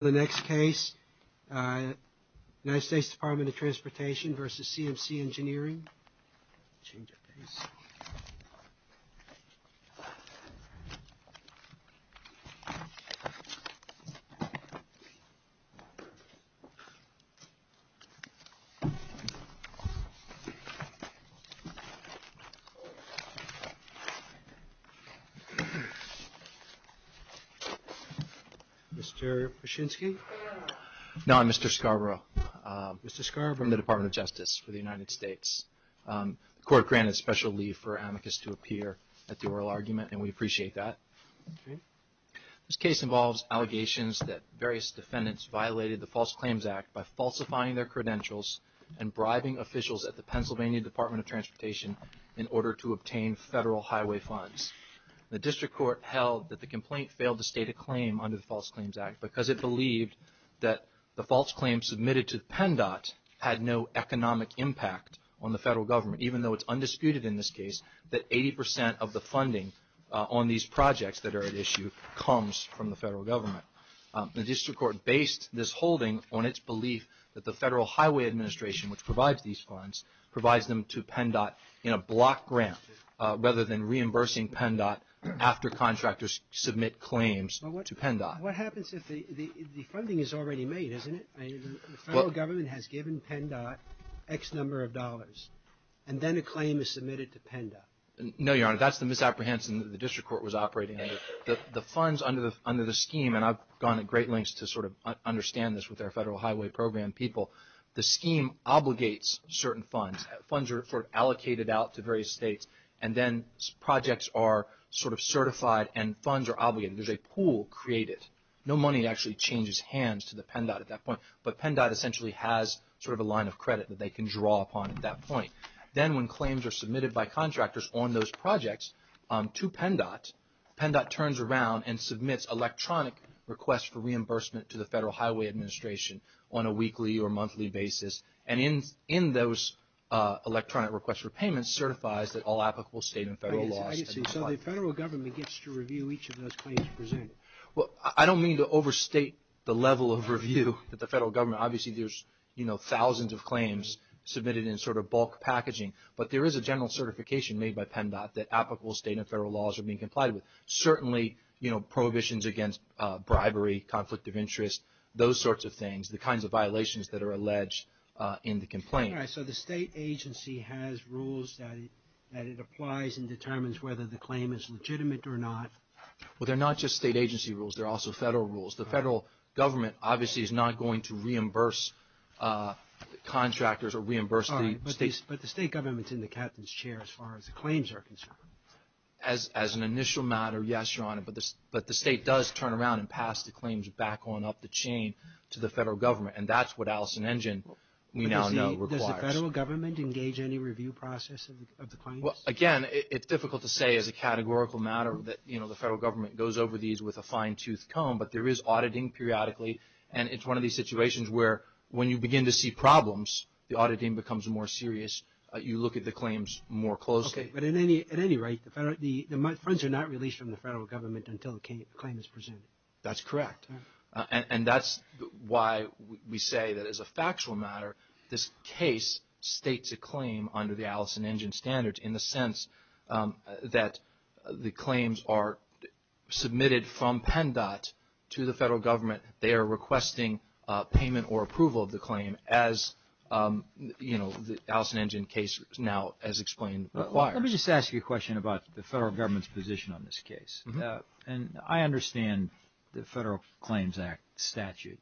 The next case, United States Department of Transportation v. CMCEng Mr. Pashinski? No, I'm Mr. Scarborough. Mr. Scarborough, I'm the Department of Justice for the United States. The court granted special leave for amicus to appear at the oral argument, and we appreciate that. This case involves allegations that various defendants violated the False Claims Act by falsifying their credentials and bribing officials at the Pennsylvania Department of Transportation in order to obtain federal highway funds. The District Court held that the complaint failed to state a claim under the False Claims Act because it believed that the false claims submitted to the PennDOT had no economic impact on the federal government, even though it's undisputed in this case that 80 percent of the funding on these projects that are at issue comes from the federal government. The District Court based this holding on its belief that the Federal Highway Administration, which provides these funds, provides them to PennDOT in a block grant rather than reimbursing PennDOT after contractors submit claims to PennDOT. What happens if the funding is already made, isn't it? The federal government has given PennDOT X number of dollars, and then a claim is submitted to PennDOT. No, Your Honor, that's the misapprehension that the District Court was operating under. The funds under the scheme, and I've gone to great lengths to sort of understand this with our federal highway program people, the scheme obligates certain funds. Funds are sort of allocated out to various states, and then projects are sort of certified and funds are obligated. There's a pool created. No money actually changes hands to the PennDOT at that point, but PennDOT essentially has sort of a line of credit that they can draw upon at that point. Then when claims are submitted by contractors on those projects to PennDOT, PennDOT turns around and submits electronic requests for reimbursement to the Federal Highway Administration on a weekly or monthly basis, and in those electronic requests for payments, certifies that all applicable state and federal laws. So the federal government gets to review each of those claims presented? Well, I don't mean to overstate the level of review that the federal government. Obviously, there's thousands of claims submitted in sort of bulk packaging, but there is a general certification made by PennDOT that applicable state and federal laws are being complied with. Certainly, you know, prohibitions against bribery, conflict of interest, those sorts of things, the kinds of violations that are alleged in the complaint. All right. So the state agency has rules that it applies and determines whether the claim is legitimate or not? Well, they're not just state agency rules. They're also federal rules. The federal government obviously is not going to reimburse contractors or reimburse the states. All right. But the state government's in the captain's chair as far as the claims are concerned? As an initial matter, yes, Your Honor. But the state does turn around and pass the claims back on up the chain to the federal government, and that's what Allison Engine, we now know, requires. Does the federal government engage any review process of the claims? Well, again, it's difficult to say as a categorical matter that, you know, the federal government goes over these with a fine-toothed comb, but there is auditing periodically, and it's one of these situations where when you begin to see problems, the auditing becomes more serious. You look at the claims more closely. But at any rate, the funds are not released from the federal government until the claim is presented? That's correct. And that's why we say that as a factual matter, this case states a claim under the Allison Engine standards in the sense that the claims are submitted from PennDOT to the federal government. They are requesting payment or approval of the claim as, you know, the Allison Engine case now, as explained, requires. Let me just ask you a question about the federal government's position on this case. And I understand the Federal Claims Act statute,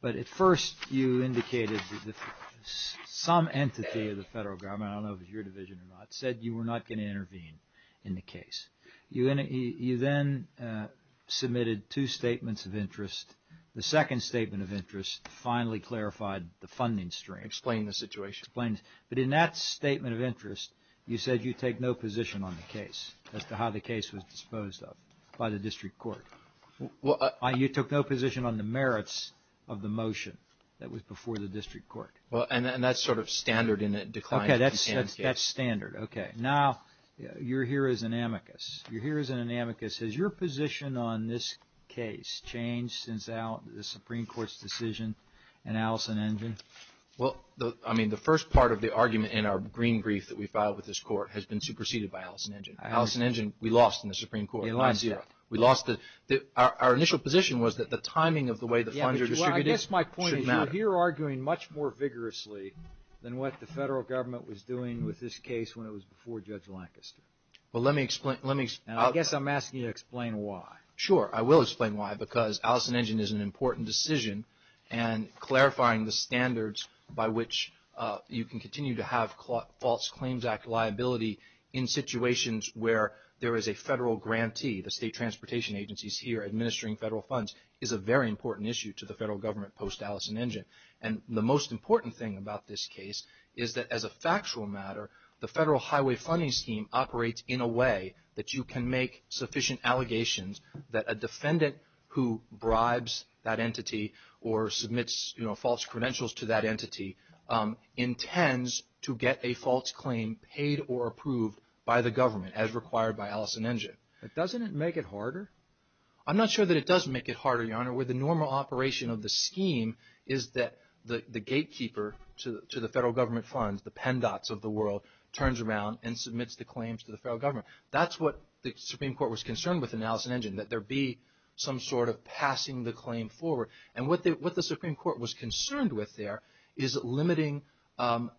but at first you indicated that some entity of the federal government, I don't know if it was your division or not, said you were not going to intervene in the case. You then submitted two statements of interest. The second statement of interest finally clarified the funding stream. Explained the situation. Explained. But in that statement of interest, you said you take no position on the case as to how the case was disposed of by the district court. You took no position on the merits of the motion that was before the district court. Well, and that's sort of standard in a decline in companion case. Okay, that's standard. Okay, now you're here as an amicus. You're here as an amicus. Has your position on this case changed since the Supreme Court's decision in Allison Engine? Well, I mean, the first part of the argument in our green brief that we filed with this court has been superseded by Allison Engine. Allison Engine, we lost in the Supreme Court. We lost it. Our initial position was that the timing of the way the funds are distributed should matter. Now, you're arguing much more vigorously than what the federal government was doing with this case when it was before Judge Lancaster. Well, let me explain. I guess I'm asking you to explain why. Sure, I will explain why, because Allison Engine is an important decision, and clarifying the standards by which you can continue to have False Claims Act liability in situations where there is a federal grantee, the state transportation agencies here administering federal funds, is a very important issue to the federal government post-Allison Engine. And the most important thing about this case is that as a factual matter, the Federal Highway Funding Scheme operates in a way that you can make sufficient allegations that a defendant who bribes that entity or submits false credentials to that entity intends to get a false claim paid or approved by the government as required by Allison Engine. But doesn't it make it harder? I'm not sure that it does make it harder, Your Honor, where the normal operation of the scheme is that the gatekeeper to the federal government funds, the pen dots of the world, turns around and submits the claims to the federal government. That's what the Supreme Court was concerned with in Allison Engine, that there be some sort of passing the claim forward. And what the Supreme Court was concerned with there is limiting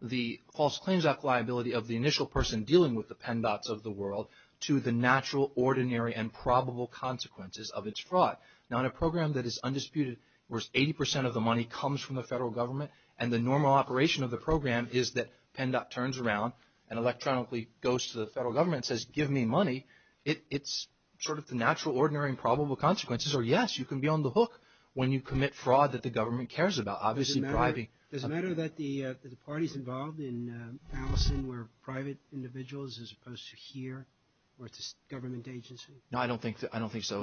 the False Claims Act liability of the initial person dealing with the pen dots of the world to the natural, ordinary, and probable consequences of its fraud. Now, in a program that is undisputed, where 80% of the money comes from the federal government, and the normal operation of the program is that pen dot turns around and electronically goes to the federal government and says, give me money, it's sort of the natural, ordinary, and probable consequences, or yes, you can be on the hook when you commit fraud that the government cares about, obviously bribing. Does it matter that the parties involved in Allison were private individuals as opposed to here, where it's a government agency? No, I don't think so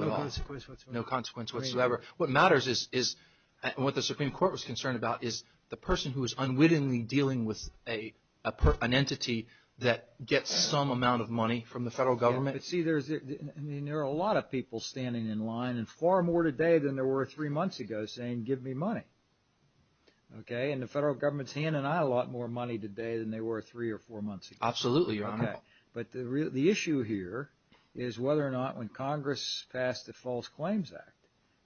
at all. No consequence whatsoever. No consequence whatsoever. What matters is, and what the Supreme Court was concerned about, is the person who is unwittingly dealing with an entity that gets some amount of money from the federal government. See, there are a lot of people standing in line, and far more today than there were three months ago, saying, give me money. Okay, and the federal government is handing out a lot more money today than they were three or four months ago. Absolutely, Your Honor. Okay, but the issue here is whether or not when Congress passed the False Claims Act,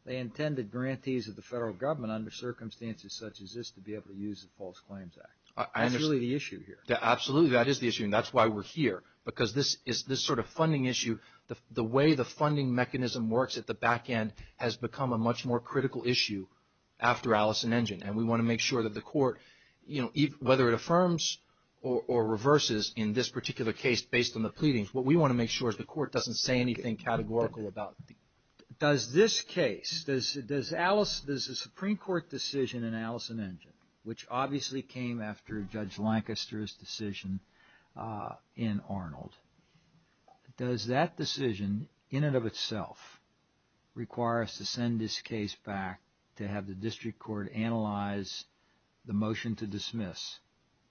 they intended grantees of the federal government under circumstances such as this to be able to use the False Claims Act. That's really the issue here. Absolutely, that is the issue, and that's why we're here, because this sort of funding issue, the way the funding mechanism works at the back end has become a much more critical issue after Allison Engen, and we want to make sure that the Court, whether it affirms or reverses in this particular case based on the pleadings, what we want to make sure is the Court doesn't say anything categorical about it. Does this case, does the Supreme Court decision in Allison Engen, which obviously came after Judge Lancaster's decision in Arnold, does that decision in and of itself require us to send this case back to have the District Court analyze the motion to dismiss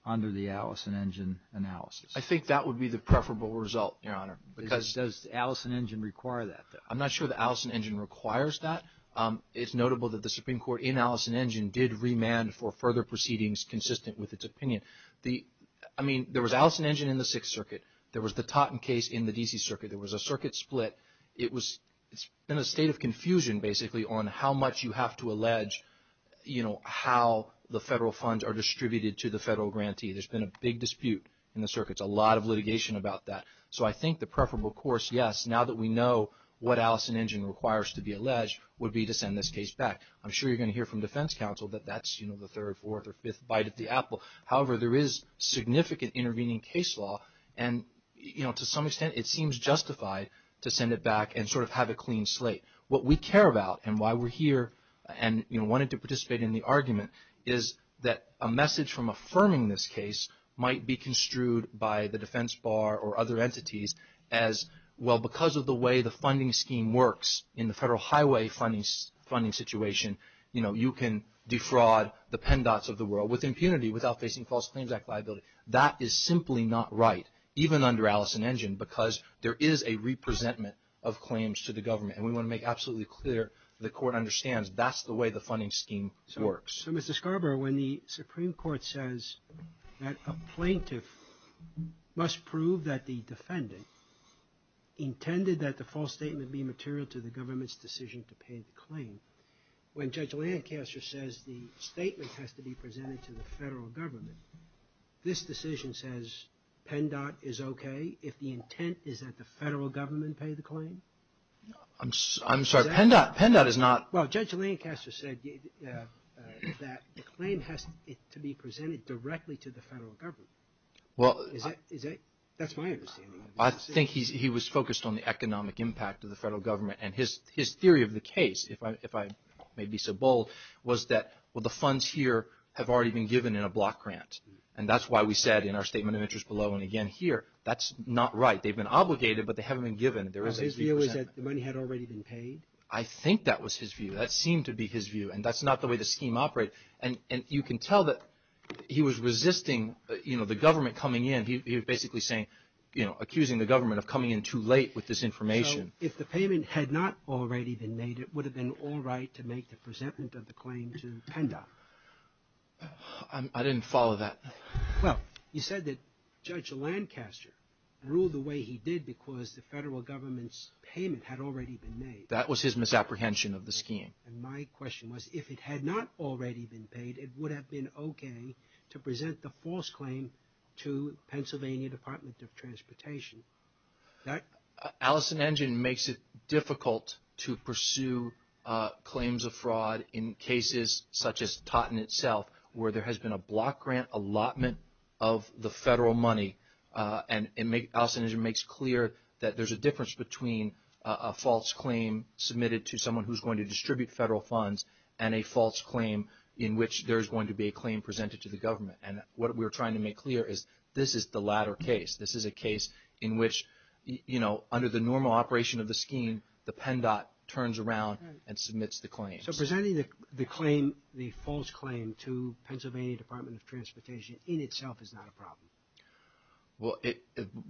under the Allison Engen analysis? I think that would be the preferable result, Your Honor. Does Allison Engen require that? I'm not sure that Allison Engen requires that. It's notable that the Supreme Court in Allison Engen did remand for further proceedings consistent with its opinion. I mean, there was Allison Engen in the Sixth Circuit. There was the Totten case in the D.C. Circuit. There was a circuit split. It's been a state of confusion, basically, on how much you have to allege, you know, how the federal funds are distributed to the federal grantee. There's been a big dispute in the circuits, a lot of litigation about that. So I think the preferable course, yes, now that we know what Allison Engen requires to be alleged would be to send this case back. I'm sure you're going to hear from defense counsel that that's, you know, the third, fourth, or fifth bite of the apple. However, there is significant intervening case law, and, you know, to some extent it seems justified to send it back and sort of have a clean slate. What we care about and why we're here and, you know, wanted to participate in the argument is that a message from affirming this case might be as, well, because of the way the funding scheme works in the federal highway funding situation, you know, you can defraud the pen dots of the world with impunity without facing False Claims Act liability. That is simply not right, even under Allison Engen, because there is a representment of claims to the government. And we want to make absolutely clear the Court understands that's the way the funding scheme works. So, Mr. Scarborough, when the Supreme Court says that a plaintiff must prove that the defendant intended that the false statement be material to the government's decision to pay the claim, when Judge Lancaster says the statement has to be presented to the federal government, this decision says pen dot is okay if the intent is that the federal government pay the claim? I'm sorry, pen dot is not. Well, Judge Lancaster said that the claim has to be presented directly to the federal government. Well, that's my understanding. I think he was focused on the economic impact of the federal government. And his theory of the case, if I may be so bold, was that, well, the funds here have already been given in a block grant. And that's why we said in our statement of interest below and again here, that's not right. They've been obligated, but they haven't been given. His view is that the money had already been paid? I think that was his view. That seemed to be his view. And that's not the way the scheme operated. And you can tell that he was resisting, you know, the government coming in. He was basically saying, you know, accusing the government of coming in too late with this information. So, if the payment had not already been made, it would have been all right to make the presentment of the claim to pen dot? I didn't follow that. Well, you said that Judge Lancaster ruled the way he did because the federal government's payment had already been made. That was his misapprehension of the scheme. And my question was, if it had not already been paid, it would have been okay to present the false claim to Pennsylvania Department of Transportation. That? Allison Engine makes it difficult to pursue claims of fraud in cases such as Totten itself, where there has been a block grant allotment of the federal money. And Allison Engine makes clear that there's a difference between a false claim submitted to someone who's going to distribute federal funds and a false claim in which there's going to be a claim presented to the government. And what we're trying to make clear is this is the latter case. This is a case in which, you know, under the normal operation of the scheme, the pen dot turns around and submits the claim. So presenting the claim, the false claim to Pennsylvania Department of Transportation in itself is not a problem. Well,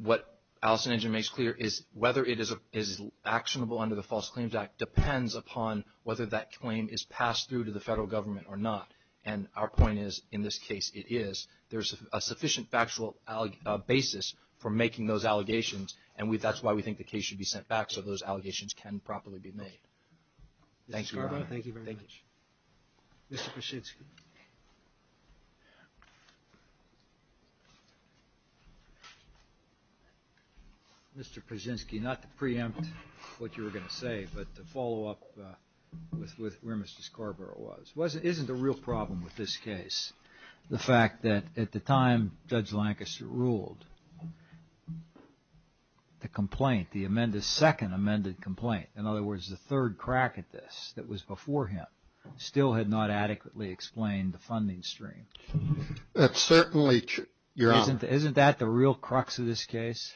what Allison Engine makes clear is whether it is actionable under the False Claims Act depends upon whether that claim is passed through to the federal government or not. And our point is, in this case, it is. There's a sufficient factual basis for making those allegations, and that's why we think the case should be sent back so those allegations can properly be made. Thank you, Your Honor. Mr. Scarborough, thank you very much. Thank you. Mr. Praczynski. Mr. Praczynski, not to preempt what you were going to say, but to follow up with where Mr. Scarborough was. Isn't the real problem with this case the fact that at the time Judge Lancaster ruled the complaint, the second amended complaint, in other words, the third crack at this that was before him, still had not adequately explained the funding stream? That certainly should, Your Honor. Isn't that the real crux of this case?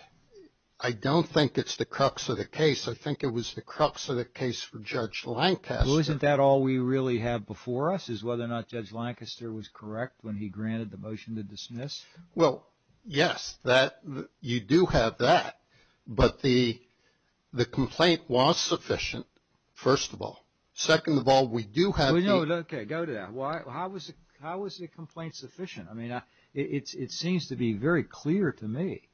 I don't think it's the crux of the case. I think it was the crux of the case for Judge Lancaster. Isn't that all we really have before us is whether or not Judge Lancaster was correct when he granted the motion to dismiss? Well, yes, you do have that, but the complaint was sufficient, first of all. Second of all, we do have the- Okay, go to that. How was the complaint sufficient? I mean, it seems to be very clear to me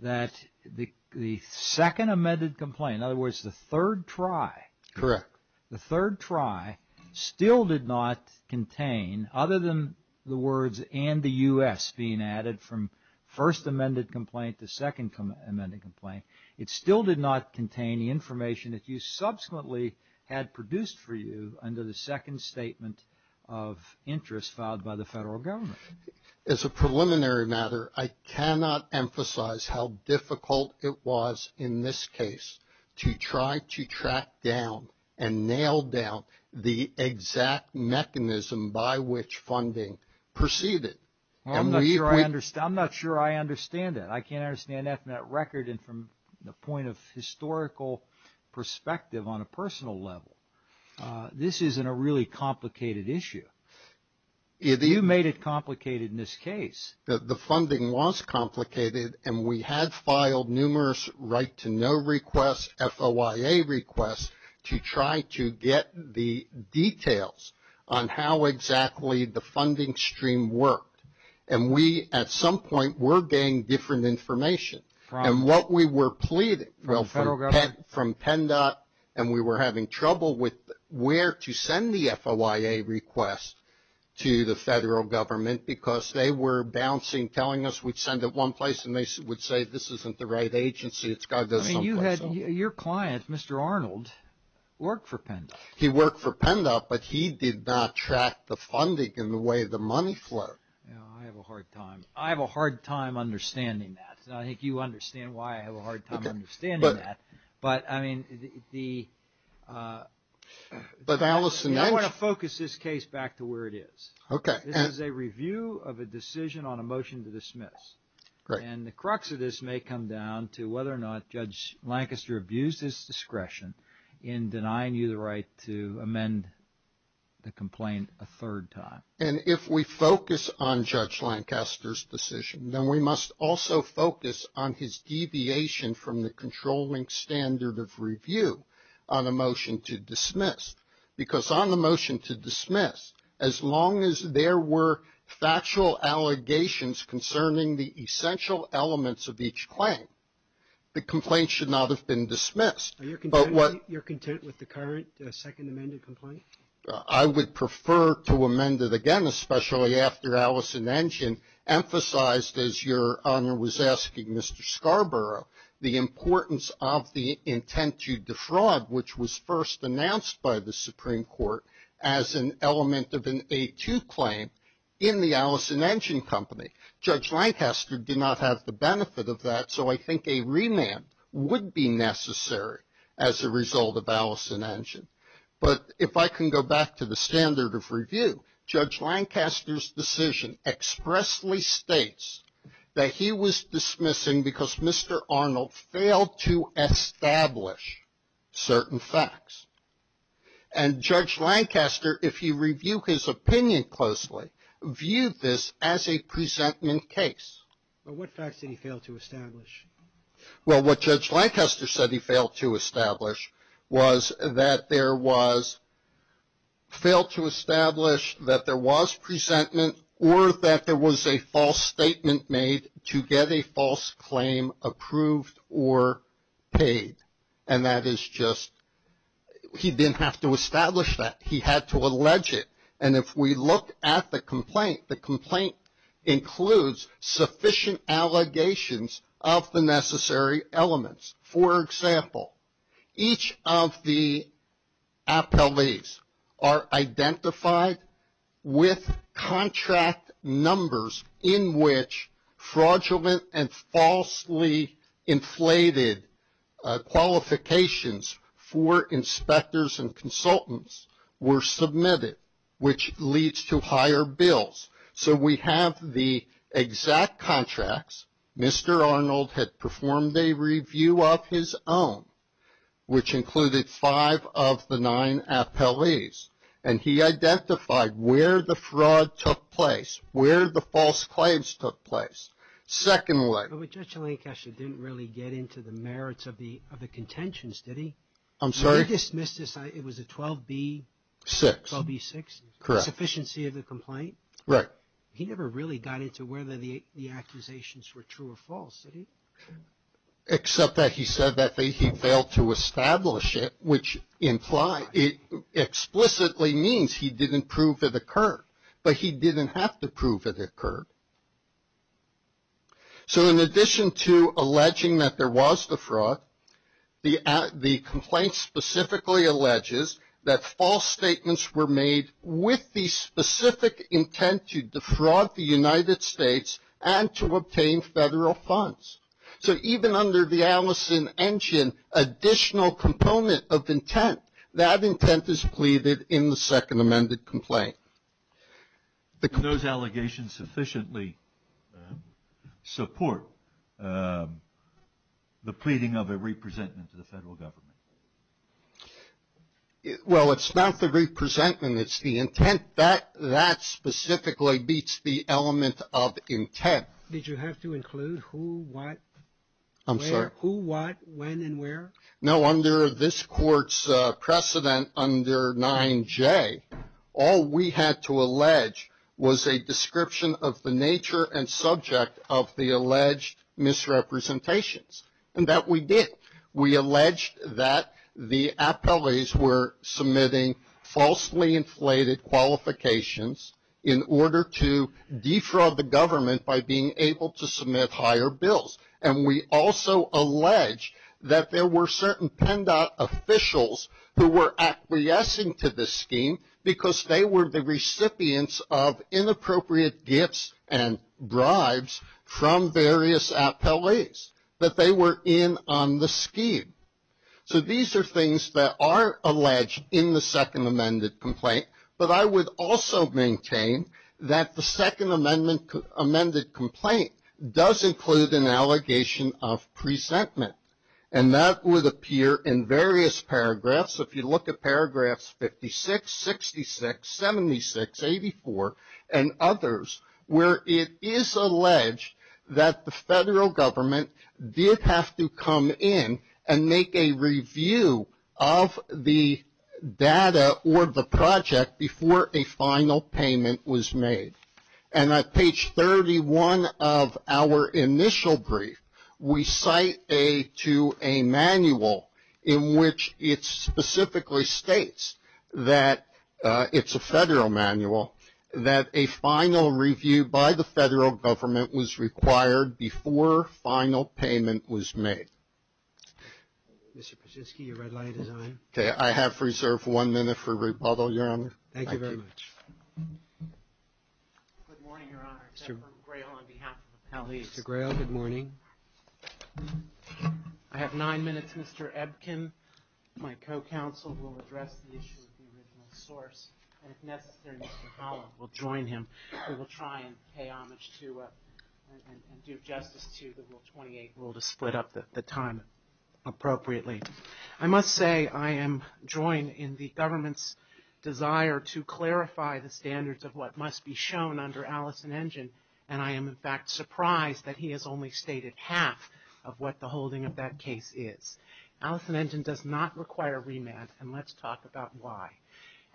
that the second amended complaint, in other words, the third try- Correct. from first amended complaint to second amended complaint. It still did not contain the information that you subsequently had produced for you under the second statement of interest filed by the federal government. As a preliminary matter, I cannot emphasize how difficult it was in this case to try to track down and nail down the exact mechanism by which funding proceeded. I'm not sure I understand that. I can't understand that from that record and from the point of historical perspective on a personal level. This isn't a really complicated issue. You made it complicated in this case. The funding was complicated, and we had filed numerous right-to-know requests, FOIA requests, to try to get the details on how exactly the funding stream worked. And we, at some point, were getting different information. And what we were pleading- From the federal government? And we were having trouble with where to send the FOIA request to the federal government, because they were bouncing, telling us we'd send it one place, and they would say, this isn't the right agency. It's got to go someplace else. I mean, your client, Mr. Arnold, worked for PENDA. He worked for PENDA, but he did not track the funding and the way the money flowed. I have a hard time. I have a hard time understanding that. I think you understand why I have a hard time understanding that. But, I mean, the- But, Allison- I want to focus this case back to where it is. Okay. This is a review of a decision on a motion to dismiss. Great. And the crux of this may come down to whether or not Judge Lancaster abused his discretion in denying you the right to amend the complaint a third time. And if we focus on Judge Lancaster's decision, then we must also focus on his deviation from the controlling standard of review on a motion to dismiss. Because on the motion to dismiss, as long as there were factual allegations concerning the essential elements of each claim, the complaint should not have been dismissed. Are you content with the current second amended complaint? I would prefer to amend it again, especially after Allison Engine emphasized, as Your Honor was asking Mr. Scarborough, the importance of the intent to defraud, which was first announced by the Supreme Court as an element of an A2 claim in the Allison Engine Company. Judge Lancaster did not have the benefit of that, so I think a remand would be necessary as a result of Allison Engine. But if I can go back to the standard of review, Judge Lancaster's decision expressly states that he was dismissing because Mr. Arnold failed to establish certain facts. And Judge Lancaster, if you review his opinion closely, viewed this as a presentment case. But what facts did he fail to establish? Well, what Judge Lancaster said he failed to establish was that there was, failed to establish that there was presentment or that there was a false statement made to get a false claim approved or paid. And that is just, he didn't have to establish that. He had to allege it. And if we look at the complaint, the complaint includes sufficient allegations of the necessary elements. For example, each of the appellees are identified with contract numbers in which fraudulent and falsely inflated qualifications for inspectors and consultants were submitted, which leads to higher bills. So we have the exact contracts. Mr. Arnold had performed a review of his own, which included five of the nine appellees. And he identified where the fraud took place, where the false claims took place. Secondly. But Judge Lancaster didn't really get into the merits of the contentions, did he? I'm sorry? He dismissed this, it was a 12B6? Correct. Sufficiency of the complaint? Right. He never really got into whether the accusations were true or false, did he? Except that he said that he failed to establish it, which explicitly means he didn't prove it occurred. But he didn't have to prove it occurred. So in addition to alleging that there was the fraud, the complaint specifically alleges that false statements were made with the specific intent to defraud the United States and to obtain federal funds. So even under the Allison engine, additional component of intent, that intent is pleaded in the second amended complaint. Do those allegations sufficiently support the pleading of a re-presentment to the federal government? Well, it's not the re-presentment, it's the intent. That specifically beats the element of intent. Did you have to include who, what? I'm sorry? Who, what, when, and where? No, under this court's precedent under 9J, all we had to allege was a description of the nature and subject of the alleged misrepresentations. And that we did. We alleged that the appellees were submitting falsely inflated qualifications in order to defraud the government by being able to submit higher bills. And we also alleged that there were certain PENDOT officials who were acquiescing to this scheme because they were the recipients of inappropriate gifts and bribes from various appellees that they were in on the scheme. So these are things that are alleged in the second amended complaint. But I would also maintain that the second amended complaint does include an allegation of presentment. And that would appear in various paragraphs. If you look at paragraphs 56, 66, 76, 84, and others, where it is alleged that the federal government did have to come in and make a review of the data or the project before a final payment was made. And on page 31 of our initial brief, we cite to a manual in which it specifically states that it's a federal manual, that a final review by the federal government was required before final payment was made. Mr. Brzezinski, your red light is on. I have reserved one minute for rebuttal, Your Honor. Thank you very much. Good morning, Your Honor. Mr. Grail, good morning. I have nine minutes. Mr. Ebkin, my co-counsel, will address the issue of the original source. And if necessary, Mr. Holland will join him. He will try and pay homage to and do justice to the Rule 28 rule to split up the time appropriately. I must say I am joined in the government's desire to clarify the standards of what must be shown under Allison Engine. And I am, in fact, surprised that he has only stated half of what the holding of that case is. Allison Engine does not require remand, and let's talk about why.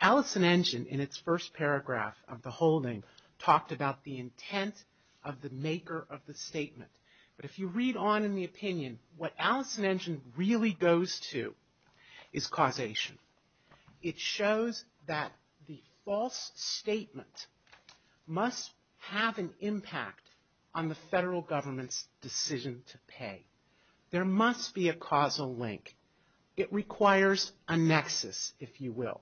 Allison Engine, in its first paragraph of the holding, talked about the intent of the maker of the statement. But if you read on in the opinion, what Allison Engine really goes to is causation. It shows that the false statement must have an impact on the federal government's decision to pay. There must be a causal link. It requires a nexus, if you will.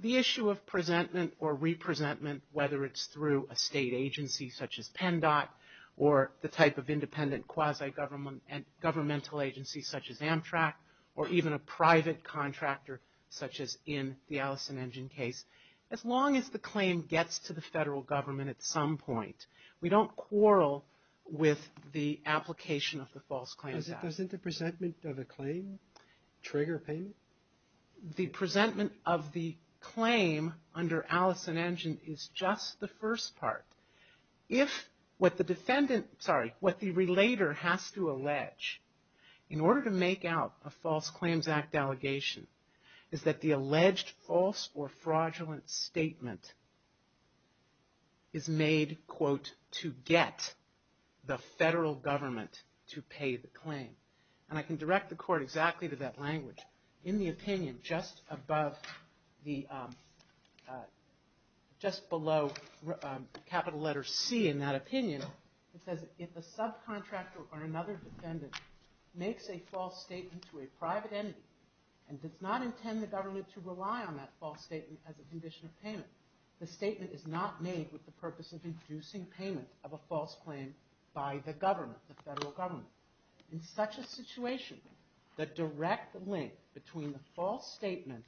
The issue of presentment or re-presentment, whether it's through a state agency such as PENDOT, or the type of independent quasi-governmental agency such as Amtrak, or even a private contractor such as in the Allison Engine case, as long as the claim gets to the federal government at some point, we don't quarrel with the application of the False Claim Act. Doesn't the presentment of a claim trigger payment? The presentment of the claim under Allison Engine is just the first part. If what the defendant, sorry, what the relator has to allege, in order to make out a False Claims Act allegation, is that the alleged false or fraudulent statement is made, quote, And I can direct the court exactly to that language. In the opinion just above the, just below capital letter C in that opinion, it says, that if a subcontractor or another defendant makes a false statement to a private entity and does not intend the government to rely on that false statement as a condition of payment, the statement is not made with the purpose of inducing payment of a false claim by the government, the federal government. In such a situation, the direct link between the false statement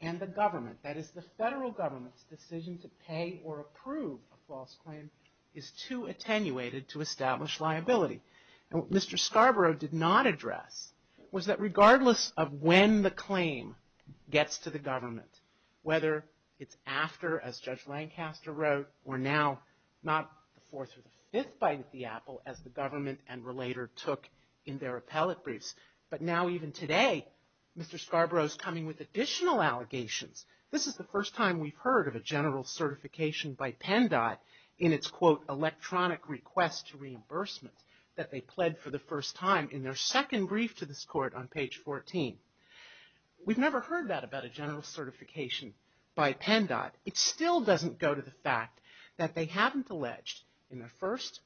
and the government, that is the federal government's decision to pay or approve a false claim, is too attenuated to establish liability. And what Mr. Scarborough did not address was that regardless of when the claim gets to the government, whether it's after, as Judge Lancaster wrote, or now, not the fourth or the fifth bite of the apple, as the government and relator took in their appellate briefs, but now even today, Mr. Scarborough's coming with additional allegations. This is the first time we've heard of a general certification by PennDOT in its, quote, electronic request to reimbursement that they pled for the first time in their second brief to this court on page 14. We've never heard that about a general certification by PennDOT. It still doesn't go to the fact that they haven't alleged in their first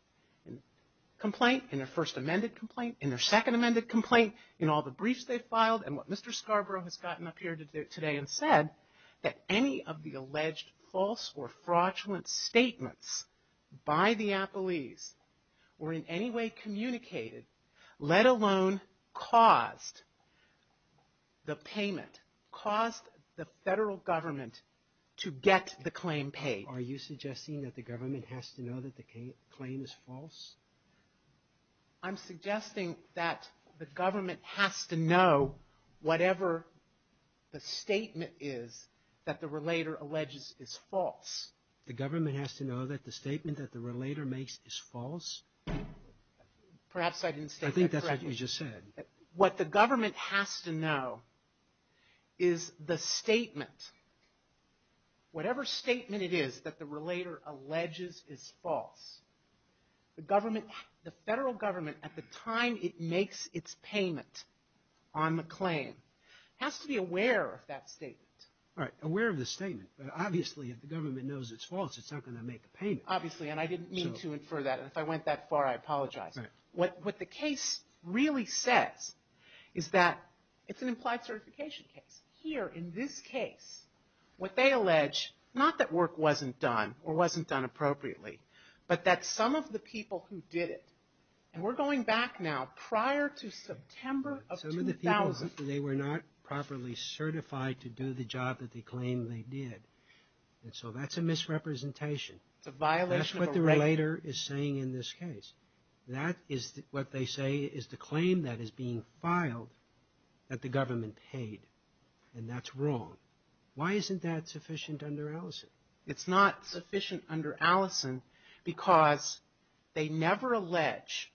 complaint, in their first amended complaint, in their second amended complaint, in all the briefs they filed and what Mr. Scarborough has gotten up here today and said, that any of the alleged false or fraudulent statements by the appellees were in any way communicated, let alone caused the payment, caused the federal government to get the claim paid. Are you suggesting that the government has to know that the claim is false? I'm suggesting that the government has to know whatever the statement is that the relator alleges is false. The government has to know that the statement that the relator makes is false? Perhaps I didn't state that correctly. I think that's what you just said. What the government has to know is the statement, whatever statement it is that the relator alleges is false. The federal government, at the time it makes its payment on the claim, has to be aware of that statement. All right. Aware of the statement. But obviously, if the government knows it's false, it's not going to make the payment. Obviously. And I didn't mean to infer that. And if I went that far, I apologize. Right. What the case really says is that it's an implied certification case. Here, in this case, what they allege, not that work wasn't done or wasn't done appropriately, but that some of the people who did it, and we're going back now prior to September of 2000. Some of the people, they were not properly certified to do the job that they claimed they did. And so that's a misrepresentation. It's a violation of a right. That's what the relator is saying in this case. That is what they say is the claim that is being filed that the government paid. And that's wrong. Why isn't that sufficient under Allison? It's not sufficient under Allison because they never allege,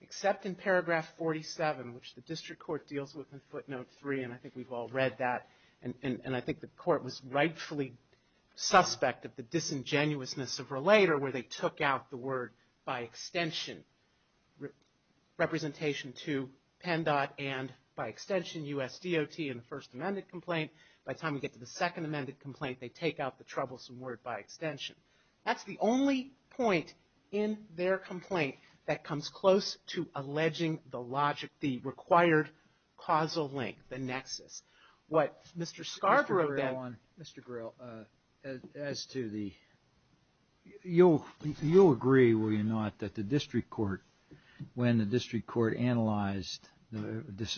except in paragraph 47, which the district court deals with in footnote three, and I think we've all read that, and I think the court was rightfully suspect of the disingenuousness of relator, where they took out the word by extension. Representation to PennDOT and, by extension, U.S. DOT in the first amended complaint. By the time we get to the second amended complaint, they take out the troublesome word by extension. That's the only point in their complaint that comes close to alleging the logic, the required causal link, the nexus. What Mr. Scarborough then. Mr. Gryll, as to the, you'll agree, will you not, that the district court, when the district court analyzed,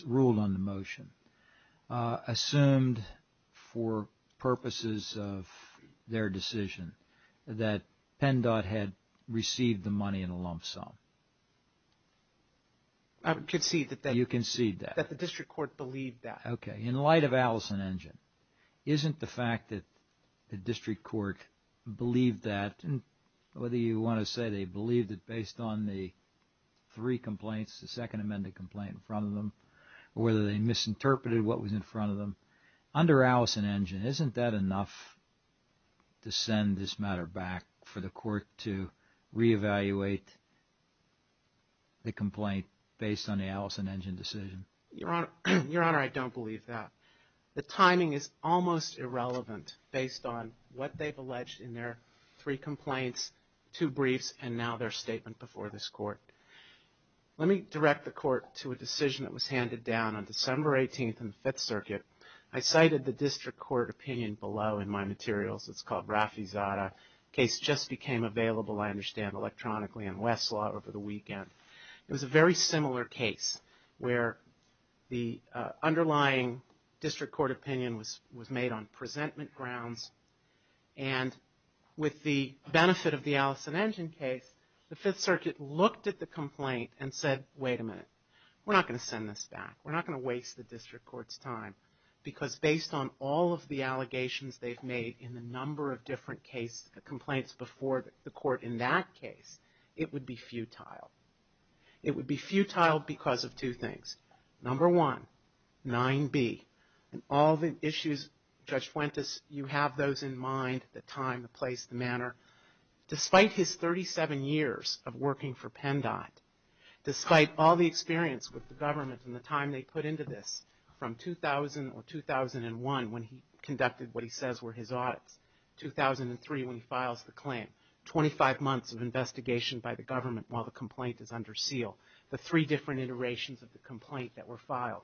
ruled on the motion, assumed for purposes of their decision that PennDOT had received the money in a lump sum? I would concede that the district court believed that. Okay. In light of Allison Engine, isn't the fact that the district court believed that, whether you want to say they believed it based on the three complaints, the second amended complaint in front of them, or whether they misinterpreted what was in front of them, under Allison Engine, isn't that enough to send this matter back for the court to reevaluate the complaint based on the Allison Engine decision? Your Honor, I don't believe that. The timing is almost irrelevant based on what they've alleged in their three complaints, two briefs, and now their statement before this court. Let me direct the court to a decision that was handed down on December 18th in the Fifth Circuit. I cited the district court opinion below in my materials. It's called Rafizadeh. The case just became available, I understand, electronically in Westlaw over the weekend. It was a very similar case where the underlying district court opinion was made on presentment grounds, and with the benefit of the Allison Engine case, the Fifth Circuit looked at the complaint and said, wait a minute, we're not going to send this back. We're not going to waste the district court's time, because based on all of the allegations they've made in the number of different complaints before the court in that case, it would be futile. It would be futile because of two things. Number one, 9B, and all the issues, Judge Fuentes, you have those in mind, the time, the place, the manner. Despite his 37 years of working for PennDOT, despite all the experience with the government and the time they put into this from 2000 or 2001 when he conducted what he says were his audits, 2003 when he files the claim, 25 months of investigation by the government while the complaint is under seal. The three different iterations of the complaint that were filed.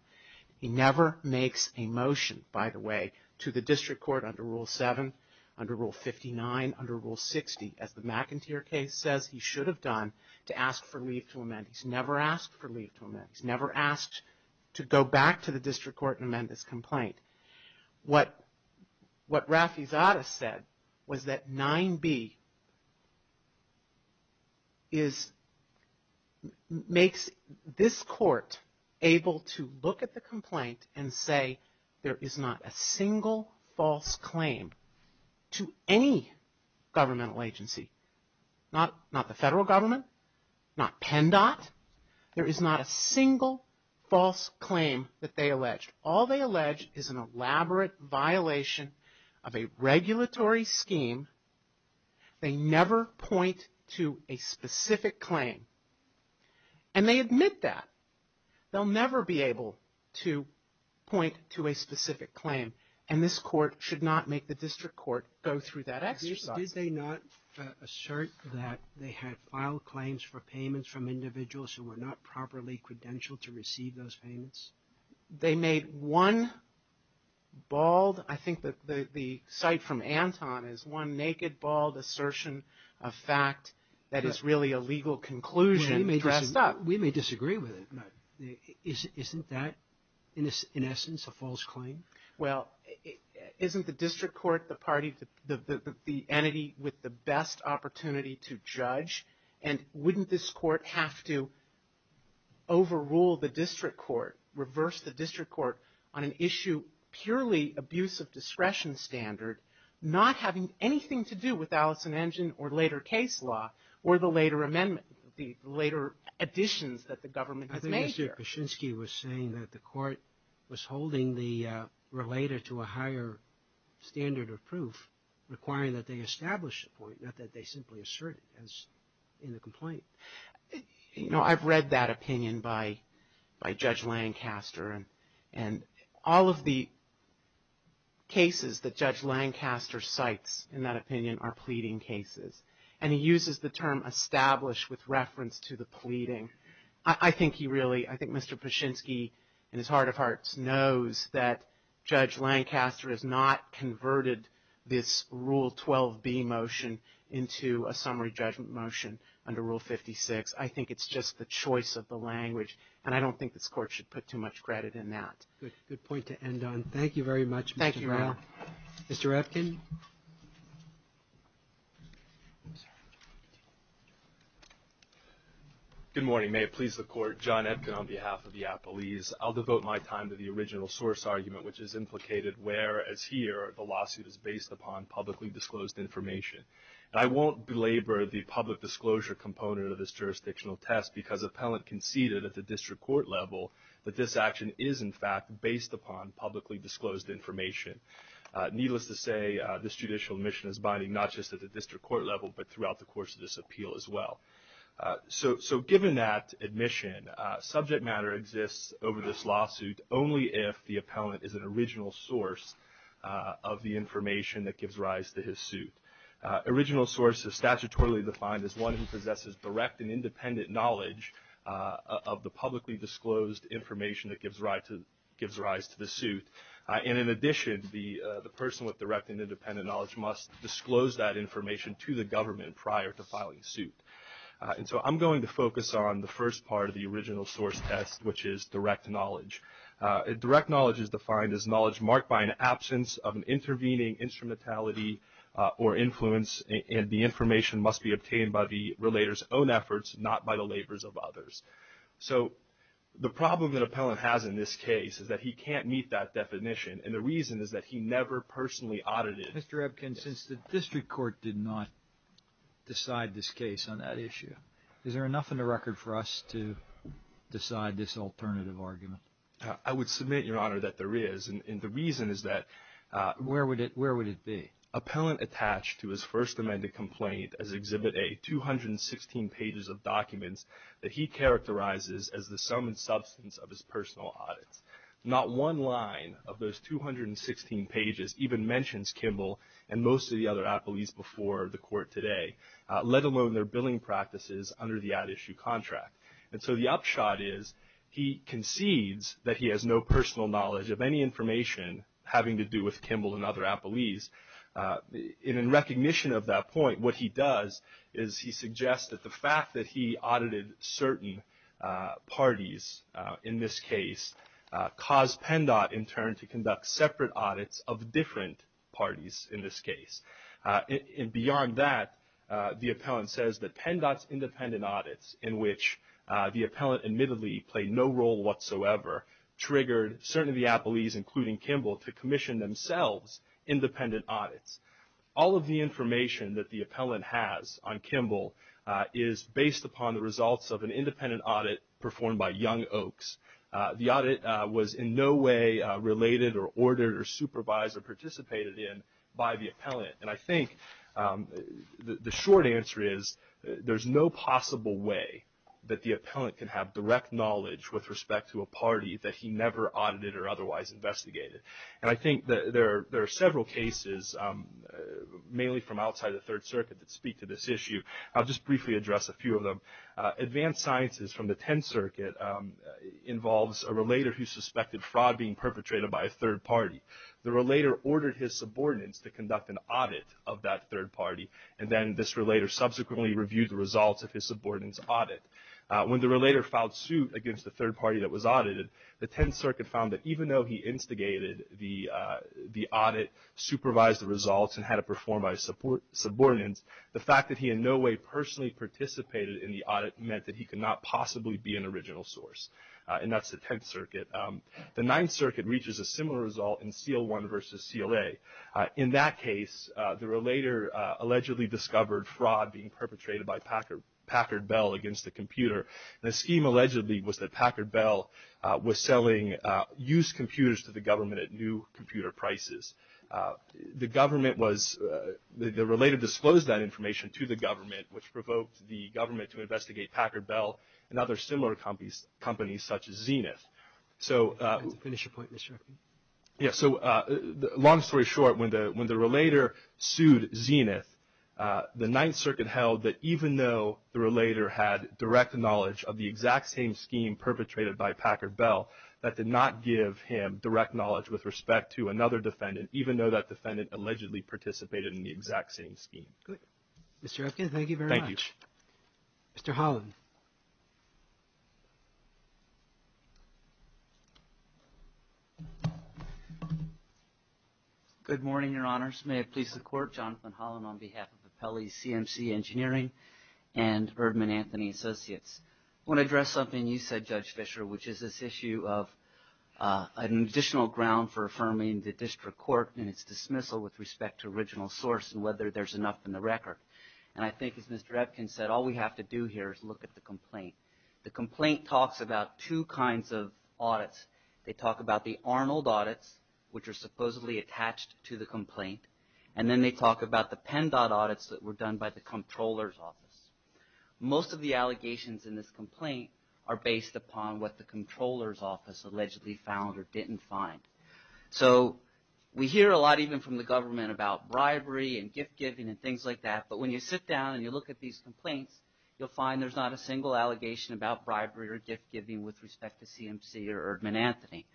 He never makes a motion, by the way, to the district court under Rule 7, under Rule 59, under Rule 60, as the McInteer case says he should have done, to ask for leave to amend. He's never asked for leave to amend. He's never asked to go back to the district court and amend this complaint. What Rafizadeh said was that 9B makes this court able to look at the complaint and say there is not a single false claim to any governmental agency, not the federal government, not PennDOT. There is not a single false claim that they alleged. All they allege is an elaborate violation of a regulatory scheme. They never point to a specific claim. And they admit that. They'll never be able to point to a specific claim. And this court should not make the district court go through that exercise. Did they not assert that they had filed claims for payments from individuals who were not properly credentialed to receive those payments? They made one bald, I think the cite from Anton, is one naked, bald assertion of fact that is really a legal conclusion. We may disagree with it. Isn't that, in essence, a false claim? Well, isn't the district court the entity with the best opportunity to judge? And wouldn't this court have to overrule the district court, reverse the district court on an issue purely abuse of discretion standard, not having anything to do with Allison Engine or later case law or the later amendment, the later additions that the government has made here? I think Mr. Kuczynski was saying that the court was holding the relator to a higher standard of proof requiring that they establish a point, not that they simply assert it as in the complaint. You know, I've read that opinion by Judge Lancaster. And all of the cases that Judge Lancaster cites in that opinion are pleading cases. And he uses the term established with reference to the pleading. I think he really, I think Mr. Kuczynski in his heart of hearts knows that Judge Lancaster has not converted this Rule 12b motion into a summary judgment motion under Rule 56. I think it's just the choice of the language. And I don't think this court should put too much credit in that. Good point to end on. Thank you very much. Thank you, Your Honor. Mr. Epkin? Good morning. May it please the Court. John Epkin on behalf of the Appleese. I'll devote my time to the original source argument, which is implicated where, as here, the lawsuit is based upon publicly disclosed information. And I won't belabor the public disclosure component of this jurisdictional test because appellant conceded at the district court level that this action is, in fact, based upon publicly disclosed information. Needless to say, this judicial admission is binding, not just at the district court level, but throughout the course of this appeal as well. So given that admission, subject matter exists over this lawsuit only if the appellant is an original source of the information that gives rise to his suit. Original source is statutorily defined as one who possesses direct and independent knowledge of the publicly disclosed information that gives rise to the suit. And in addition, the person with direct and independent knowledge must disclose that information to the government prior to filing suit. And so I'm going to focus on the first part of the original source test, which is direct knowledge. Direct knowledge is defined as knowledge marked by an absence of an intervening instrumentality or influence, and the information must be obtained by the relator's own efforts, not by the labors of others. So the problem that appellant has in this case is that he can't meet that definition, and the reason is that he never personally audited. Mr. Epkin, since the district court did not decide this case on that issue, is there enough in the record for us to decide this alternative argument? I would submit, Your Honor, that there is, and the reason is that Where would it be? Appellant attached to his First Amendment complaint as Exhibit A 216 pages of documents that he characterizes as the sum and substance of his personal audits. Not one line of those 216 pages even mentions Kimball and most of the other appellees before the court today, let alone their billing practices under the ad issue contract. And so the upshot is he concedes that he has no personal knowledge of any information having to do with Kimball and other appellees. And in recognition of that point, what he does is he suggests that the fact that he audited certain parties, in this case, caused PennDOT in turn to conduct separate audits of different parties, in this case. And beyond that, the appellant says that PennDOT's independent audits, in which the appellant admittedly played no role whatsoever, triggered certain of the appellees, including Kimball, to commission themselves independent audits. All of the information that the appellant has on Kimball is based upon the young oaks. The audit was in no way related or ordered or supervised or participated in by the appellant. And I think the short answer is there's no possible way that the appellant can have direct knowledge with respect to a party that he never audited or otherwise investigated. And I think there are several cases, mainly from outside the Third Circuit, that speak to this issue. I'll just briefly address a few of them. Advanced Sciences from the Tenth Circuit involves a relator who suspected fraud being perpetrated by a third party. The relator ordered his subordinates to conduct an audit of that third party, and then this relator subsequently reviewed the results of his subordinates' audit. When the relator filed suit against the third party that was audited, the Tenth Circuit found that even though he instigated the audit, supervised the results, and had it performed by his subordinates, the fact that he in no way personally participated in the audit meant that he could not possibly be an original source. And that's the Tenth Circuit. The Ninth Circuit reaches a similar result in CL1 versus CLA. In that case, the relator allegedly discovered fraud being perpetrated by Packard Bell against a computer. The scheme allegedly was that Packard Bell was selling used computers to the government at new computer prices. The government was, the relator disclosed that information to the government which provoked the government to investigate Packard Bell and other similar companies such as Zenith. So. To finish your point, Mr. Sharkey. Yeah, so long story short, when the relator sued Zenith, the Ninth Circuit held that even though the relator had direct knowledge of the exact same scheme perpetrated by Packard Bell, that did not give him direct knowledge with respect to another defendant, even though that defendant allegedly participated in the exact same scheme. Good. Mr. Epkin, thank you very much. Thank you. Mr. Holland. Good morning, your honors. May it please the court, Jonathan Holland on behalf of the Pelley CMC engineering and Erdman Anthony associates. When I dress up and you said judge Fisher, which is this issue of an additional ground for affirming the district court and its dismissal with respect to original source and whether there's enough in the record. And I think as Mr. Epkin said, all we have to do here is look at the complaint. The complaint talks about two kinds of audits. They talk about the Arnold audits, which are supposedly attached to the complaint. comptroller's office. Most of the allegations in this complaint are based upon what the controller's office allegedly found or didn't find. So we hear a lot, even from the government about bribery and gift giving and things like that. But when you sit down and you look at these complaints, you'll find there's not a single allegation about bribery or gift giving with respect to CMC or Erdman Anthony.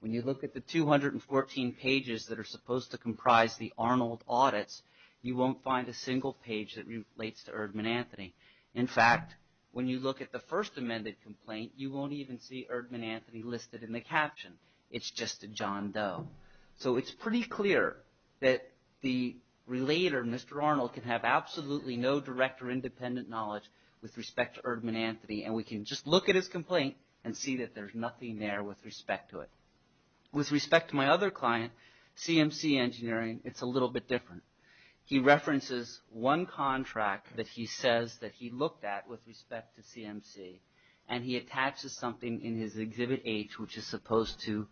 When you look at the 214 pages that are supposed to comprise the Arnold audits, you won't find a single page that relates to Erdman Anthony. In fact, when you look at the first amended complaint, you won't even see Erdman Anthony listed in the caption. It's just a John Doe. So it's pretty clear that the relator, Mr. Arnold can have absolutely no direct or independent knowledge with respect to Erdman Anthony. And we can just look at his complaint and see that there's nothing there with respect to it. With respect to my other client, CMC engineering, it's a little bit different. He references one contract that he says that he looked at with respect to CMC and he attaches something in his exhibit H, which is supposed to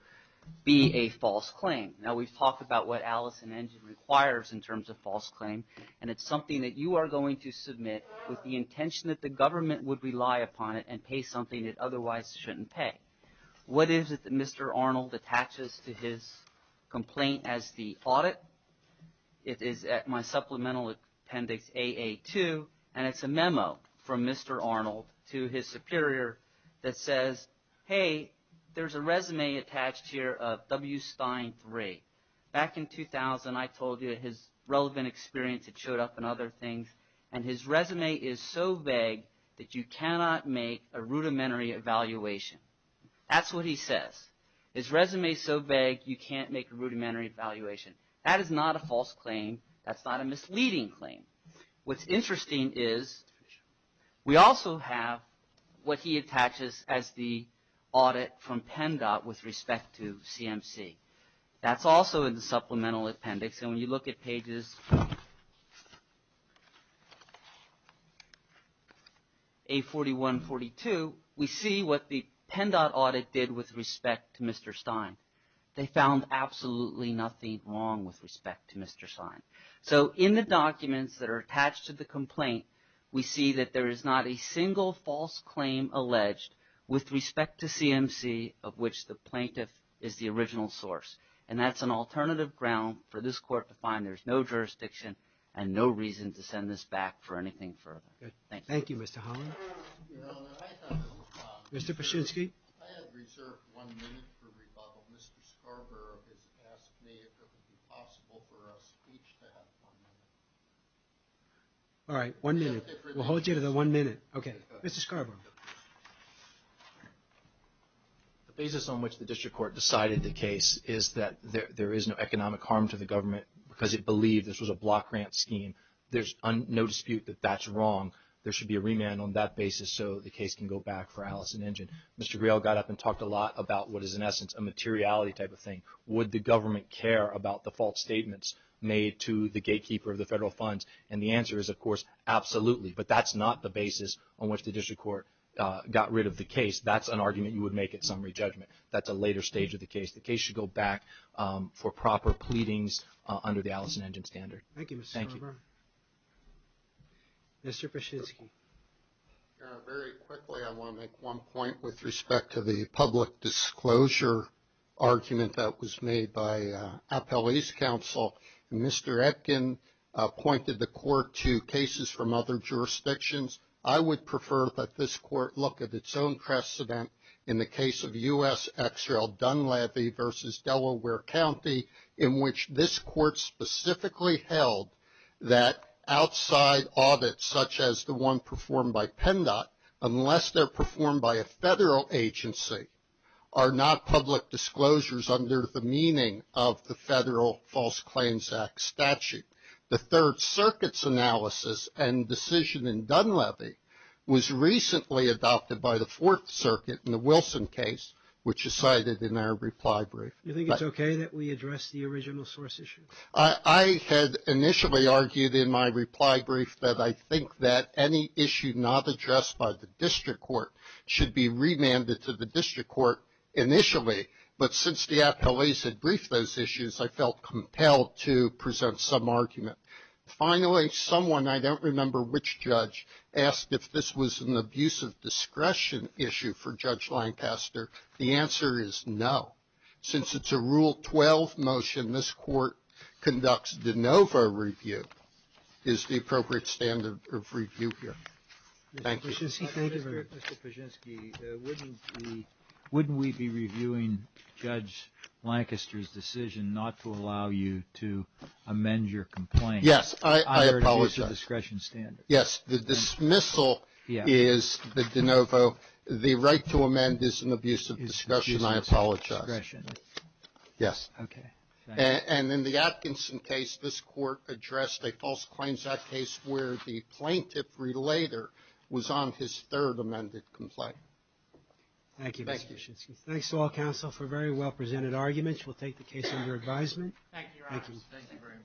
be a false claim. Now we've talked about what Allison engine requires in terms of false claim. And it's something that you are going to submit with the intention that the government would rely upon it and pay something that otherwise shouldn't pay. What is it that Mr. Arnold attaches to his complaint as the audit? It is at my supplemental appendix, AA2, and it's a memo from Mr. Arnold to his superior that says, Hey, there's a resume attached here of W. Stein three. Back in 2000, I told you that his relevant experience had showed up in other things and his resume is so vague that you cannot make a rudimentary evaluation. That's what he says. His resume is so vague. You can't make a rudimentary evaluation. That is not a false claim. That's not a misleading claim. What's interesting is we also have what he attaches as the audit from PENDOT with respect to CMC. That's also in the supplemental appendix. And when you look at pages A41, 42, we see what the PENDOT audit did with respect to Mr. Stein. They found absolutely nothing wrong with respect to Mr. Stein. So in the documents that are attached to the complaint, we see that there is not a single false claim alleged with respect to CMC, of which the plaintiff is the original source. And that's an alternative ground for this court to find. There's no jurisdiction and no reason to send this back for anything further. Thank you. Thank you, Mr. Holland. Mr. Paschinski. I have reserved one minute for rebuttal. Mr. Scarborough has asked me if it would be possible for a speech to have one minute. All right. One minute. We'll hold you to the one minute. Okay. Mr. Scarborough. The basis on which the district court decided the case is that there is no economic harm to the government because it believed this was a block grant scheme. There's no dispute that that's wrong. There should be a remand on that basis so the case can go back for Allison Engine. Mr. Grail got up and talked a lot about what is in essence a materiality type of thing. Would the government care about the false statements made to the gatekeeper of the federal funds? And the answer is, of course, absolutely. But that's not the basis on which the district court got rid of the case. That's an argument you would make at summary judgment. That's a later stage of the case. The case should go back for proper pleadings under the Allison Engine standard. Thank you, Mr. Chizky. Very quickly, I want to make one point with respect to the public disclosure argument that was made by Appellee's Council. Mr. Etkin pointed the court to cases from other jurisdictions. I would prefer that this court look at its own precedent in the case of U.S. XRL Dunleavy versus Delaware County in which this court specifically held that outside audits such as the one performed by PENDOT, unless they're performed by a federal agency, are not public disclosures under the meaning of the Federal False Claims Act statute. The Third Circuit's analysis and decision in Dunleavy was recently adopted by the Fourth Circuit in the Wilson case, which is cited in our reply brief. Do you think it's okay that we address the original source issue? I had initially argued in my reply brief that I think that any issue not addressed by the district court should be remanded to the district court initially, but since the appellees had briefed those issues, I felt compelled to present some argument. Finally, someone, I don't remember which judge, asked if this was an abuse of discretion issue for Judge Lancaster. The answer is no. Since it's a Rule 12 motion, this court conducts de novo review, is the appropriate standard of review here. Thank you. Mr. Fijinsky, wouldn't we be reviewing Judge Lancaster's decision not to allow you to amend your complaint? Yes, I apologize. Under an abuse of discretion standard. Yes, the dismissal is the de novo, the right to amend is an abuse of discretion. I apologize. Yes. Okay. And in the Atkinson case, this court addressed a false claims act case where the plaintiff relater was on his third amended complaint. Thank you. Thanks to all counsel for very well presented arguments. We'll take the case under advisement. Thank you. Thank you very much.